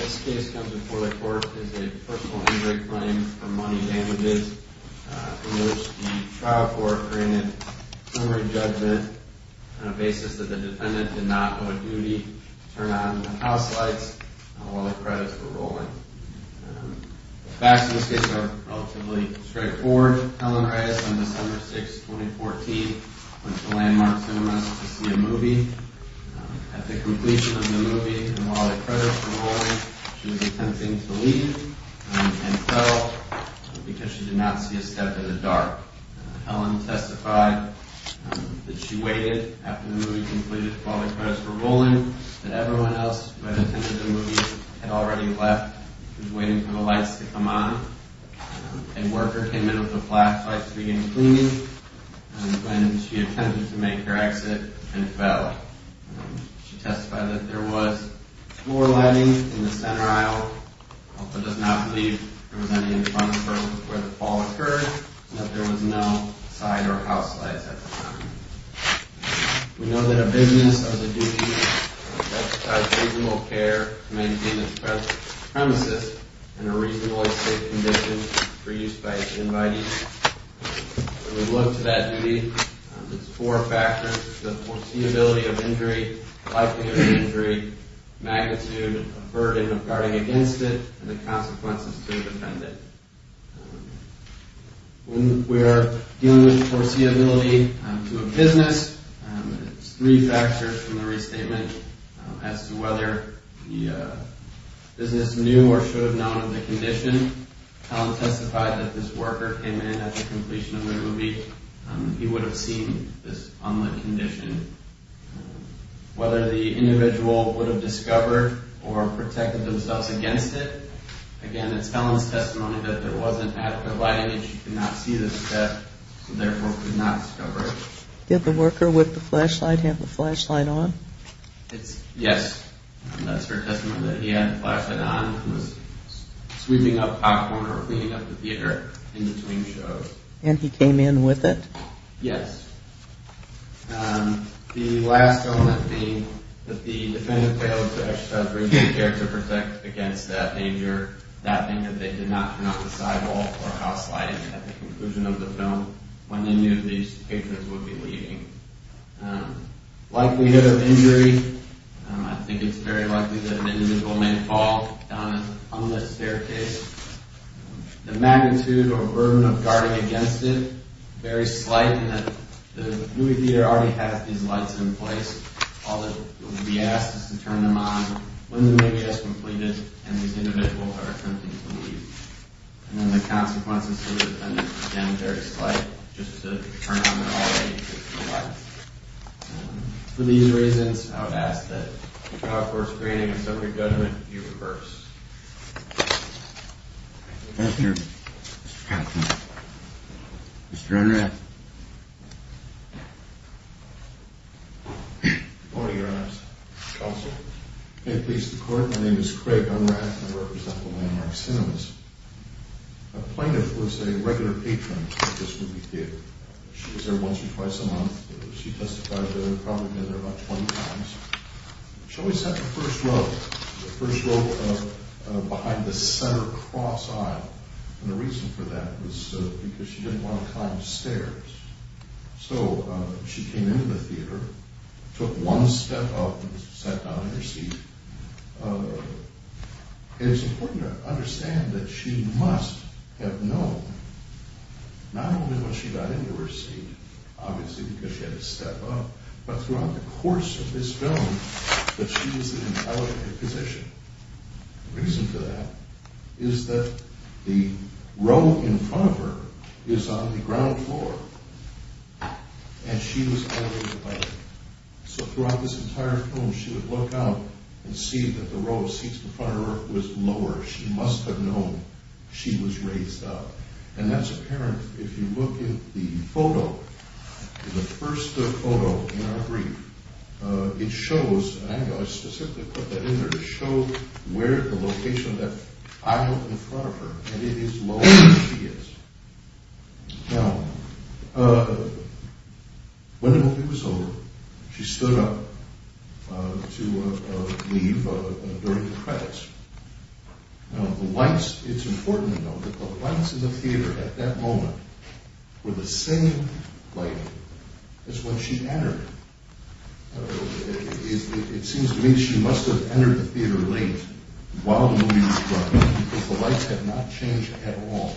This case comes before the court as a personal injury claim for money damages. The trial court granted summary judgment on the basis that the defendant did not owe a duty to turn on the house lights while the credits were rolling. The facts of this case are relatively straightforward. Helen Reyes on December 6, 2014 went to Landmark Cinemas to see a movie. At the completion of the movie and while the credits were rolling, she was attempting to leave and fell because she did not see a step in the dark. Helen testified that she waited after the movie completed while the credits were rolling, that everyone else who had attended the movie had already left and was waiting for the lights to come on. A worker came in with a flashlight to begin cleaning. When she attempted to make her exit, she fell. She testified that there was floor lighting in the center aisle, but does not believe there was any in front of her where the fall occurred and that there was no side or house lights at the time. We know that a business has a duty to exercise reasonable care to maintain its premises in a reasonably safe condition for use by its invitees. When we look to that duty, there are four factors. The foreseeability of injury, likelihood of injury, magnitude of burden of guarding against it, and the consequences to the defendant. When we are dealing with foreseeability to a business, there are three factors from the restatement as to whether the business knew or should have known of the condition. Helen testified that this worker came in at the completion of the movie. He would have seen this unlit condition. Whether the individual would have discovered or protected themselves against it, again, it's Helen's testimony that there wasn't adequate lighting and she could not see the step and therefore could not discover it. Did the worker with the flashlight have the flashlight on? Yes, that's her testimony that he had the flashlight on and was sweeping up popcorn or cleaning up the theater in between shows. And he came in with it? Yes. The last film that the defendant failed to exercise reasonable care to protect against that danger, that thing that they did not turn off the side wall or house lighting at the conclusion of the film, when they knew these patrons would be leaving. Likelihood of injury, I think it's very likely that an individual may fall down an unlit staircase. The magnitude or burden of guarding against it, very slight in that the movie theater already has these lights in place. All that would be asked is to turn them on when the movie has completed and these individuals are attempting to leave. And then the consequences to the defendant, again, very slight, just to turn on the light. For these reasons, I would ask that the trial court screening and summary judgment be reversed. Thank you, Mr. Captain. Mr. Unrath. Good morning, Your Honor's counsel. May it please the court, my name is Craig Unrath and I represent the Landmark Cinemas. A plaintiff was a regular patron at this movie theater. She was there once or twice a month. She testified that she had probably been there about 20 times. She always sat in the first row, the first row behind the center cross aisle. And the reason for that was because she didn't want to climb stairs. So she came into the theater, took one step up and sat down in her seat. And it's important to understand that she must have known, not only when she got into her seat, obviously because she had to step up, but throughout the course of this film that she was in an elevated position. The reason for that is that the row in front of her is on the ground floor. And she was elevated by that. So throughout this entire film, she would look out and see that the row of seats in front of her was lower. She must have known she was raised up. And that's apparent if you look at the photo, the first photo in our brief. I specifically put that in there to show where the location of that aisle in front of her. And it is lower than she is. Now, when the movie was over, she stood up to leave during the credits. Now, the lights, it's important to note that the lights in the theater at that moment were the same lighting as when she entered. It seems to me she must have entered the theater late while the movie was running because the lights had not changed at all.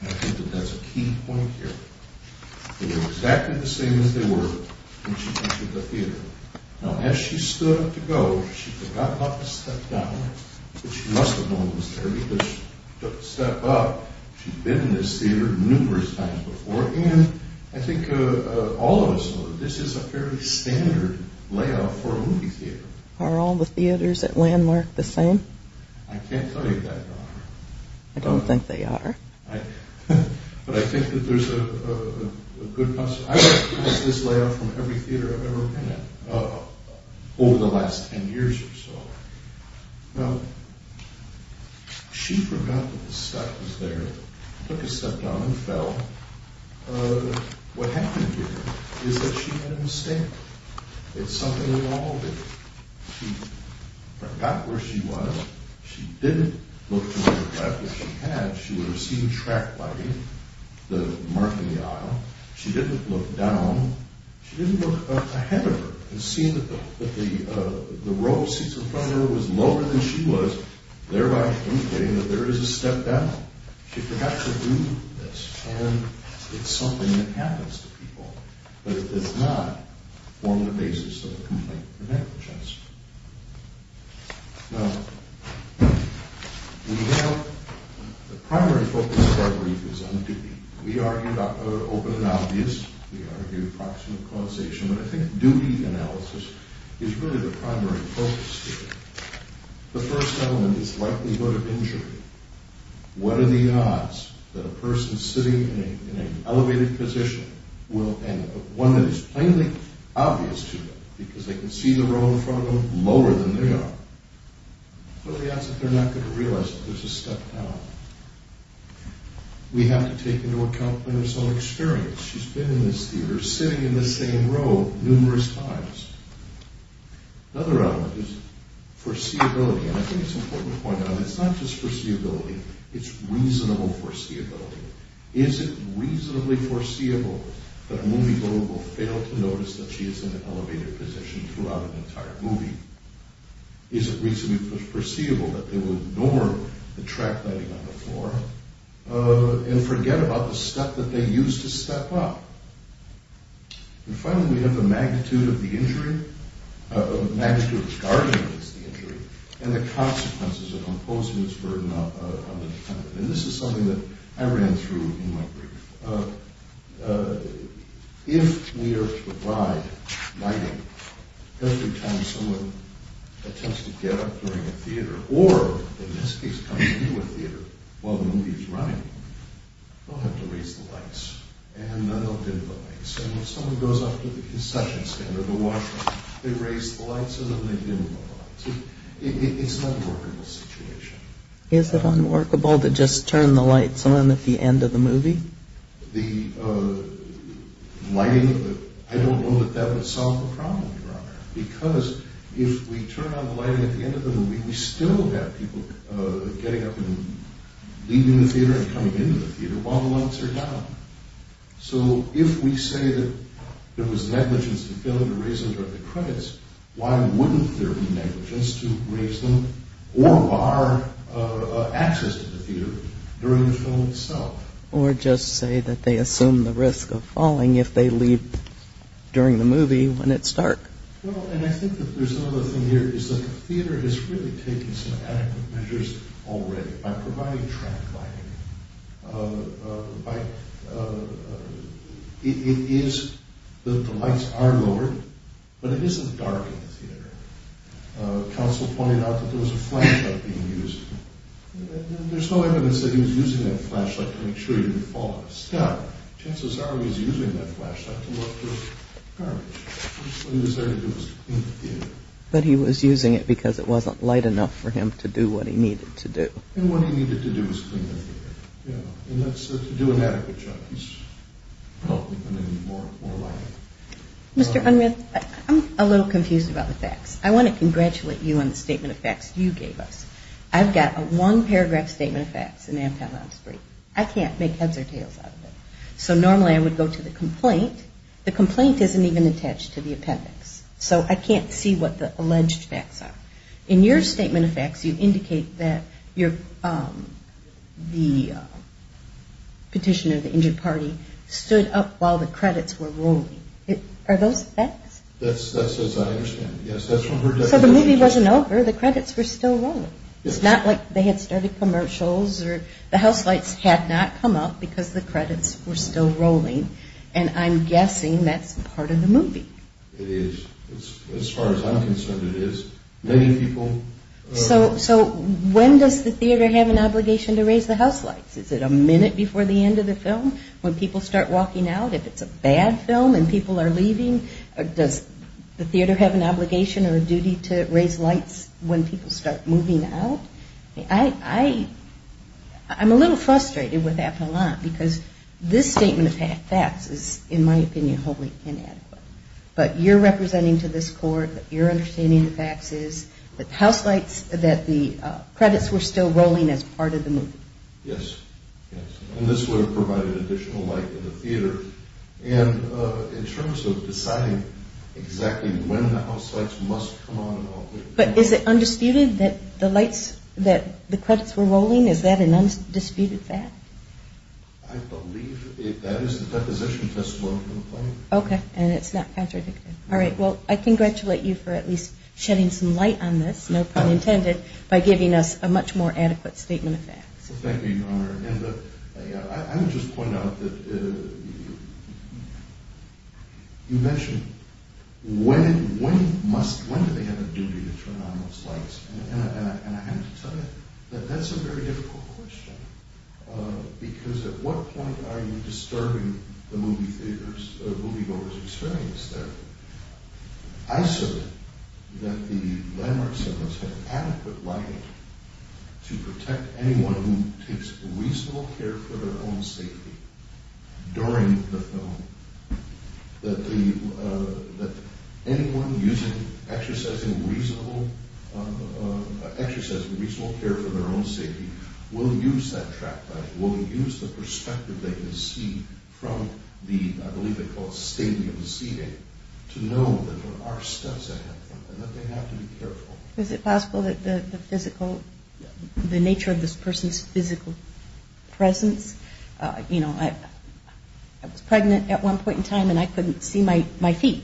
And I think that that's a key point here. They were exactly the same as they were when she entered the theater. Now, as she stood up to go, she forgot not to step down. But she must have known it was there because she took a step up. She'd been in this theater numerous times before. And I think all of us know that this is a fairly standard layout for a movie theater. Are all the theaters at Landmark the same? I can't tell you that, Donna. I don't think they are. But I think that there's a good concept. I've seen this layout from every theater I've ever been in over the last ten years or so. Now, she forgot that the step was there, took a step down and fell. What happened here is that she made a mistake. It's something we all do. She forgot where she was. She didn't look to the left. If she had, she would have seen track lighting, the mark in the aisle. She didn't look down. She didn't look ahead of her and see that the row of seats in front of her was lower than she was, thereby indicating that there is a step down. She forgot to do this. And it's something that happens to people. But it does not form the basis of a complaint for negligence. Now, we have... The primary focus of our brief is on duty. We argue about whether open and obvious. We argue approximate causation. But I think duty analysis is really the primary focus here. The first element is likelihood of injury. What are the odds that a person sitting in an elevated position will... One that is plainly obvious to them because they can see the row in front of them lower than they are. What are the odds that they're not going to realize that there's a step down? We have to take into account personal experience. She's been in this theater sitting in the same row numerous times. Another element is foreseeability. And I think it's important to point out that it's not just foreseeability. It's reasonable foreseeability. Is it reasonably foreseeable that a moviegoer will fail to notice that she is in an elevated position throughout an entire movie? Is it reasonably foreseeable that they will ignore the track lighting on the floor and forget about the step that they used to step up? And finally, we have the magnitude of the injury. The magnitude of the scarring against the injury and the consequences of imposing this burden on the defendant. And this is something that I ran through in my brief. If we are to provide lighting every time someone attempts to get up during a theater or, in this case, comes into a theater while the movie is running, they'll have to raise the lights and then they'll dim the lights. And when someone goes up to the concession stand or the washroom, they raise the lights and then they dim the lights. It's not a workable situation. Is it unworkable to just turn the lights on at the end of the movie? The lighting? I don't know that that would solve the problem, Your Honor. Because if we turn on the lighting at the end of the movie, we still have people getting up and leaving the theater and coming into the theater while the lights are down. So if we say that there was negligence in failing to raise the credits, why wouldn't there be negligence to raise them or bar access to the theater during the film itself? Or just say that they assume the risk of falling if they leave during the movie when it's dark. Well, and I think that there's another thing here, is that the theater has really taken some adequate measures already by providing track lighting. It is, the lights are lowered, but it isn't dark in the theater. Counsel pointed out that there was a flashlight being used. There's no evidence that he was using that flashlight to make sure he didn't fall out of the sky. Chances are he was using that flashlight to look through garbage. What he was there to do was clean the theater. But he was using it because it wasn't light enough for him to do what he needed to do. And what he needed to do was clean the theater. And that's to do an adequate job. He's probably going to need more lighting. Mr. Unruh, I'm a little confused about the facts. I want to congratulate you on the statement of facts you gave us. I've got a one-paragraph statement of facts in Amtel on spree. I can't make heads or tails out of it. So normally I would go to the complaint. The complaint isn't even attached to the appendix. So I can't see what the alleged facts are. In your statement of facts, you indicate that the petition of the injured party stood up while the credits were rolling. Are those facts? That's as I understand it, yes. So the movie wasn't over. The credits were still rolling. It's not like they had started commercials or the house lights had not come up because the credits were still rolling. And I'm guessing that's part of the movie. It is. As far as I'm concerned, it is. So when does the theater have an obligation to raise the house lights? Is it a minute before the end of the film when people start walking out? If it's a bad film and people are leaving, does the theater have an obligation or a duty to raise lights when people start moving out? I'm a little frustrated with Amtel on because this statement of facts is, in my opinion, wholly inadequate. But you're representing to this court that you're understanding the facts is that the credits were still rolling as part of the movie. Yes. And this would have provided additional light to the theater. And in terms of deciding exactly when the house lights must come on and off. But is it undisputed that the credits were rolling? Is that an undisputed fact? I believe that is the deposition testimony from the plaintiff. Okay. And it's not contradicted. All right. Well, I congratulate you for at least shedding some light on this, no pun intended, by giving us a much more adequate statement of facts. Thank you, Your Honor. And I would just point out that you mentioned when do they have a duty to turn on those lights? And I have to tell you that that's a very difficult question. Because at what point are you disturbing the moviegoers' experience there? I said that the landmark settlers had adequate lighting to protect anyone who takes reasonable care for their own safety during the film. That anyone exercising reasonable care for their own safety will use that track light, will use the perspective they can see from the, I believe they call it stadium seating, to know that there are steps ahead of them and that they have to be careful. Is it possible that the physical, the nature of this person's physical presence? You know, I was pregnant at one point in time and I couldn't see my feet.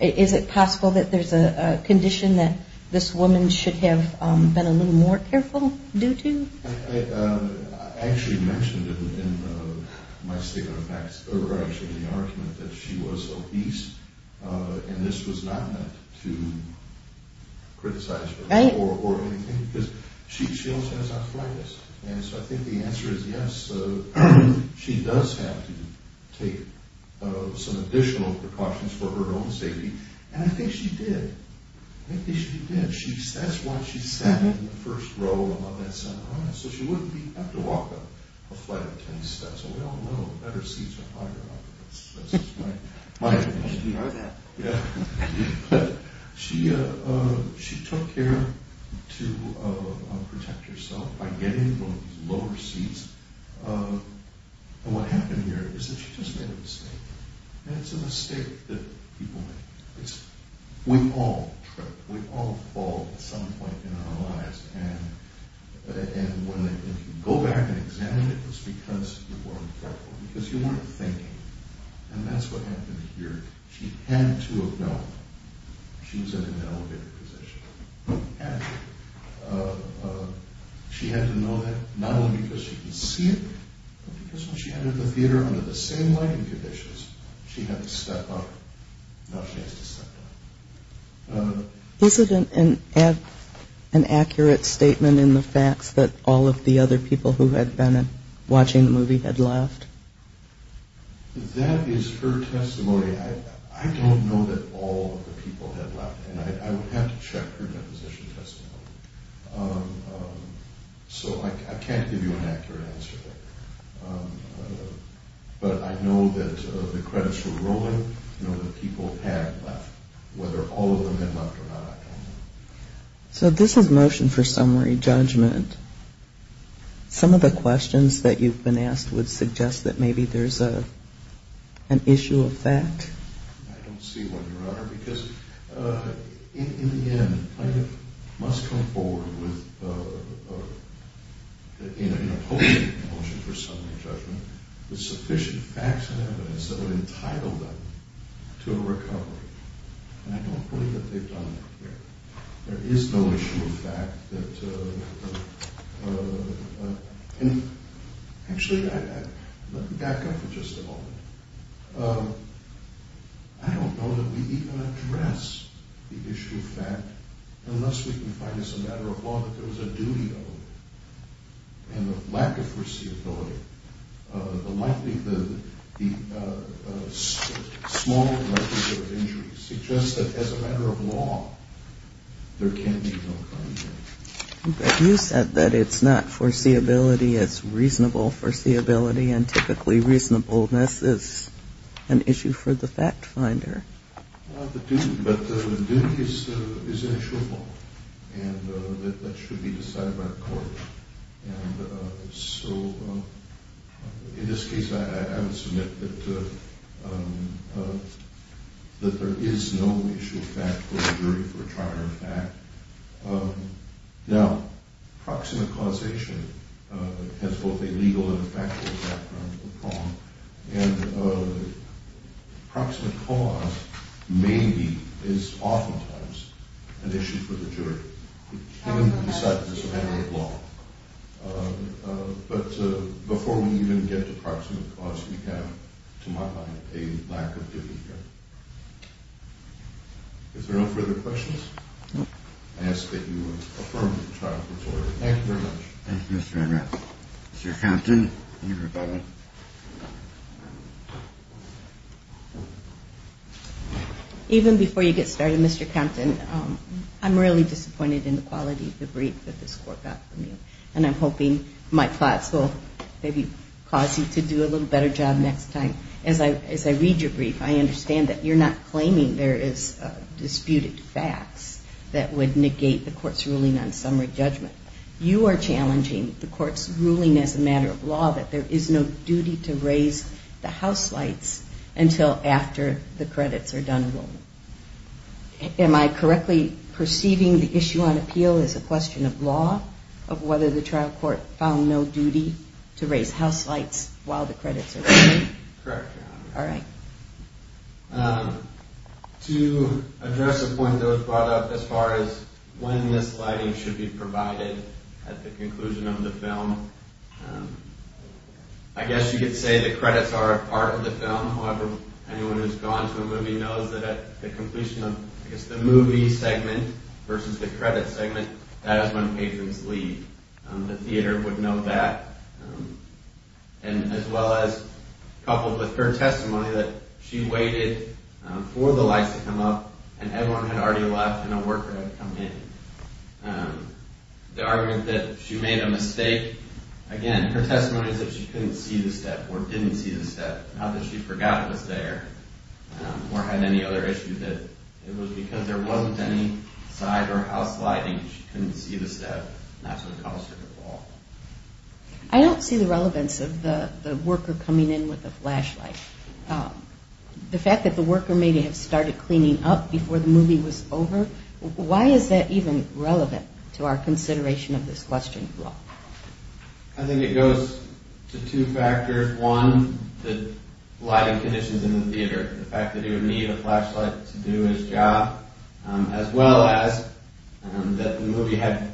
Is it possible that there's a condition that this woman should have been a little more careful due to? I actually mentioned it in my statement of facts, or actually in the argument, that she was obese and this was not meant to criticize her or anything because she also has arthritis. And so I think the answer is yes, she does have to take some additional precautions for her own safety. And I think she did. I think she did. And that's why she sat in the first row of that seminar. So she wouldn't have to walk up a flight of 10 steps. And we all know that better seats are higher up. That's just my opinion. But she took care to protect herself by getting in one of these lower seats. And what happened here is that she just made a mistake. And it's a mistake that people make. We all trip. We all fall at some point in our lives. And if you go back and examine it, it's because you weren't careful. Because you weren't thinking. And that's what happened here. She had to have known she was in an elevated position. And she had to know that not only because she could see it, but because when she entered the theater under the same lighting conditions, she had to step up. Now she has to step down. Is it an accurate statement in the facts that all of the other people who had been watching the movie had left? That is her testimony. I don't know that all of the people had left. And I would have to check her deposition testimony. So I can't give you an accurate answer. But I know that the credits were rolling. I know that people had left. Whether all of them had left or not, I don't know. So this is motion for summary judgment. Some of the questions that you've been asked would suggest that maybe there's an issue of fact. I don't see one, Your Honor. Because in the end, I must come forward in opposing the motion for summary judgment with sufficient facts and evidence that would entitle them to a recovery. And I don't believe that they've done that here. There is no issue of fact. Actually, let me back up for just a moment. I don't know that we even address the issue of fact, unless we can find as a matter of law that there was a duty of it. And the lack of foreseeability, the small likelihood of injury, suggests that as a matter of law, there can be no crime here. But you said that it's not foreseeability. It's reasonable foreseeability. And typically reasonableness is an issue for the fact finder. Well, the duty, but the duty is an issue of law. And that should be decided by the court. And so in this case, I would submit that there is no issue of fact for the jury for a trial in fact. Now, proximate causation has both a legal and factual background to the problem. And proximate cause maybe is oftentimes an issue for the jury. It can be decided as a matter of law. But before we even get to proximate cause, we have, to my mind, a lack of duty here. Is there no further questions? No. I ask that you affirm the trial report. Thank you very much. Thank you, Mr. Enright. Mr. Compton. Even before you get started, Mr. Compton, I'm really disappointed in the quality of the brief that this court got from you. And I'm hoping my thoughts will maybe cause you to do a little better job next time. As I read your brief, I understand that you're not claiming there is disputed facts that would negate the court's ruling on summary judgment. You are challenging the court's ruling as a matter of law, that there is no duty to raise the house lights until after the credits are done rolling. Am I correctly perceiving the issue on appeal as a question of law, of whether the trial court found no duty to raise house lights while the credits are rolling? Correct, Your Honor. All right. To address a point that was brought up as far as when the sliding should be provided at the conclusion of the film, I guess you could say the credits are a part of the film. However, anyone who has gone to a movie knows that at the completion of, I guess, the movie segment versus the credit segment, that is when patrons leave. The theater would know that. And as well as coupled with her testimony that she waited for the lights to come up and everyone had already left and a worker had come in. The argument that she made a mistake, again, her testimony is that she couldn't see the step or didn't see the step, not that she forgot it was there or had any other issue that it was because there wasn't any side or house lighting. She couldn't see the step. That's what caused her to fall. I don't see the relevance of the worker coming in with a flashlight. The fact that the worker may have started cleaning up before the movie was over, why is that even relevant to our consideration of this question of law? I think it goes to two factors. First one, the lighting conditions in the theater, the fact that he would need a flashlight to do his job, as well as that the movie had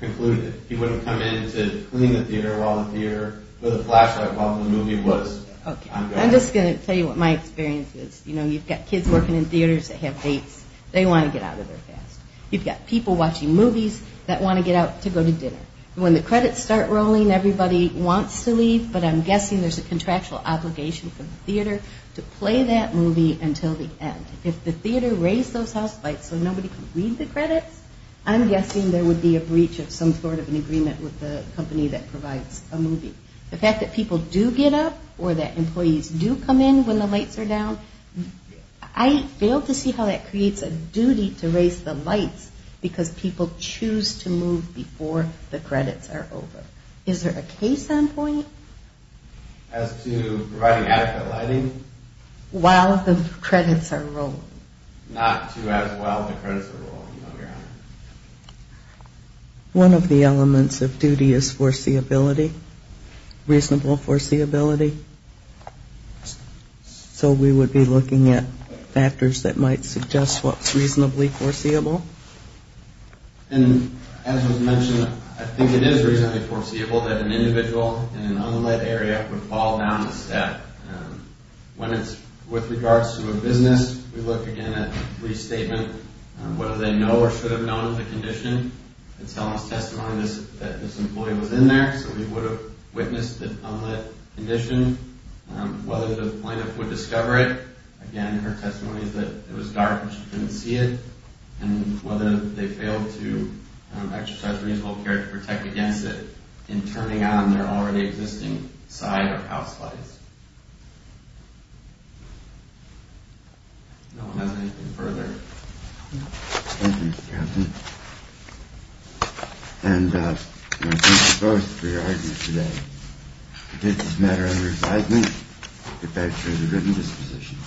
concluded. He wouldn't come in to clean the theater with a flashlight while the movie was ongoing. I'm just going to tell you what my experience is. You've got kids working in theaters that have dates. They want to get out of there fast. You've got people watching movies that want to get out to go to dinner. When the credits start rolling, everybody wants to leave, but I'm guessing there's a contractual obligation for the theater to play that movie until the end. If the theater raised those house lights so nobody could read the credits, I'm guessing there would be a breach of some sort of an agreement with the company that provides a movie. The fact that people do get up or that employees do come in when the lights are down, I fail to see how that creates a duty to raise the lights because people choose to move before the credits are over. Is there a case standpoint? As to providing adequate lighting? While the credits are rolling. Not to as well the credits are rolling, Your Honor. One of the elements of duty is foreseeability, reasonable foreseeability. So we would be looking at factors that might suggest what's reasonably foreseeable. As was mentioned, I think it is reasonably foreseeable that an individual in an unlit area would fall down the step. When it's with regards to a business, we look again at restatement, whether they know or should have known the condition. They'd tell us testimony that this employee was in there, so we would have witnessed the unlit condition. Whether the plaintiff would discover it. Again, her testimony is that it was dark and she couldn't see it. And whether they failed to exercise reasonable care to protect against it in turning on their already existing side or house lights. No one has anything further. Thank you, Mr. Captain. And I thank you both for your argument today. This is a matter of resignment. The judge has a written disposition.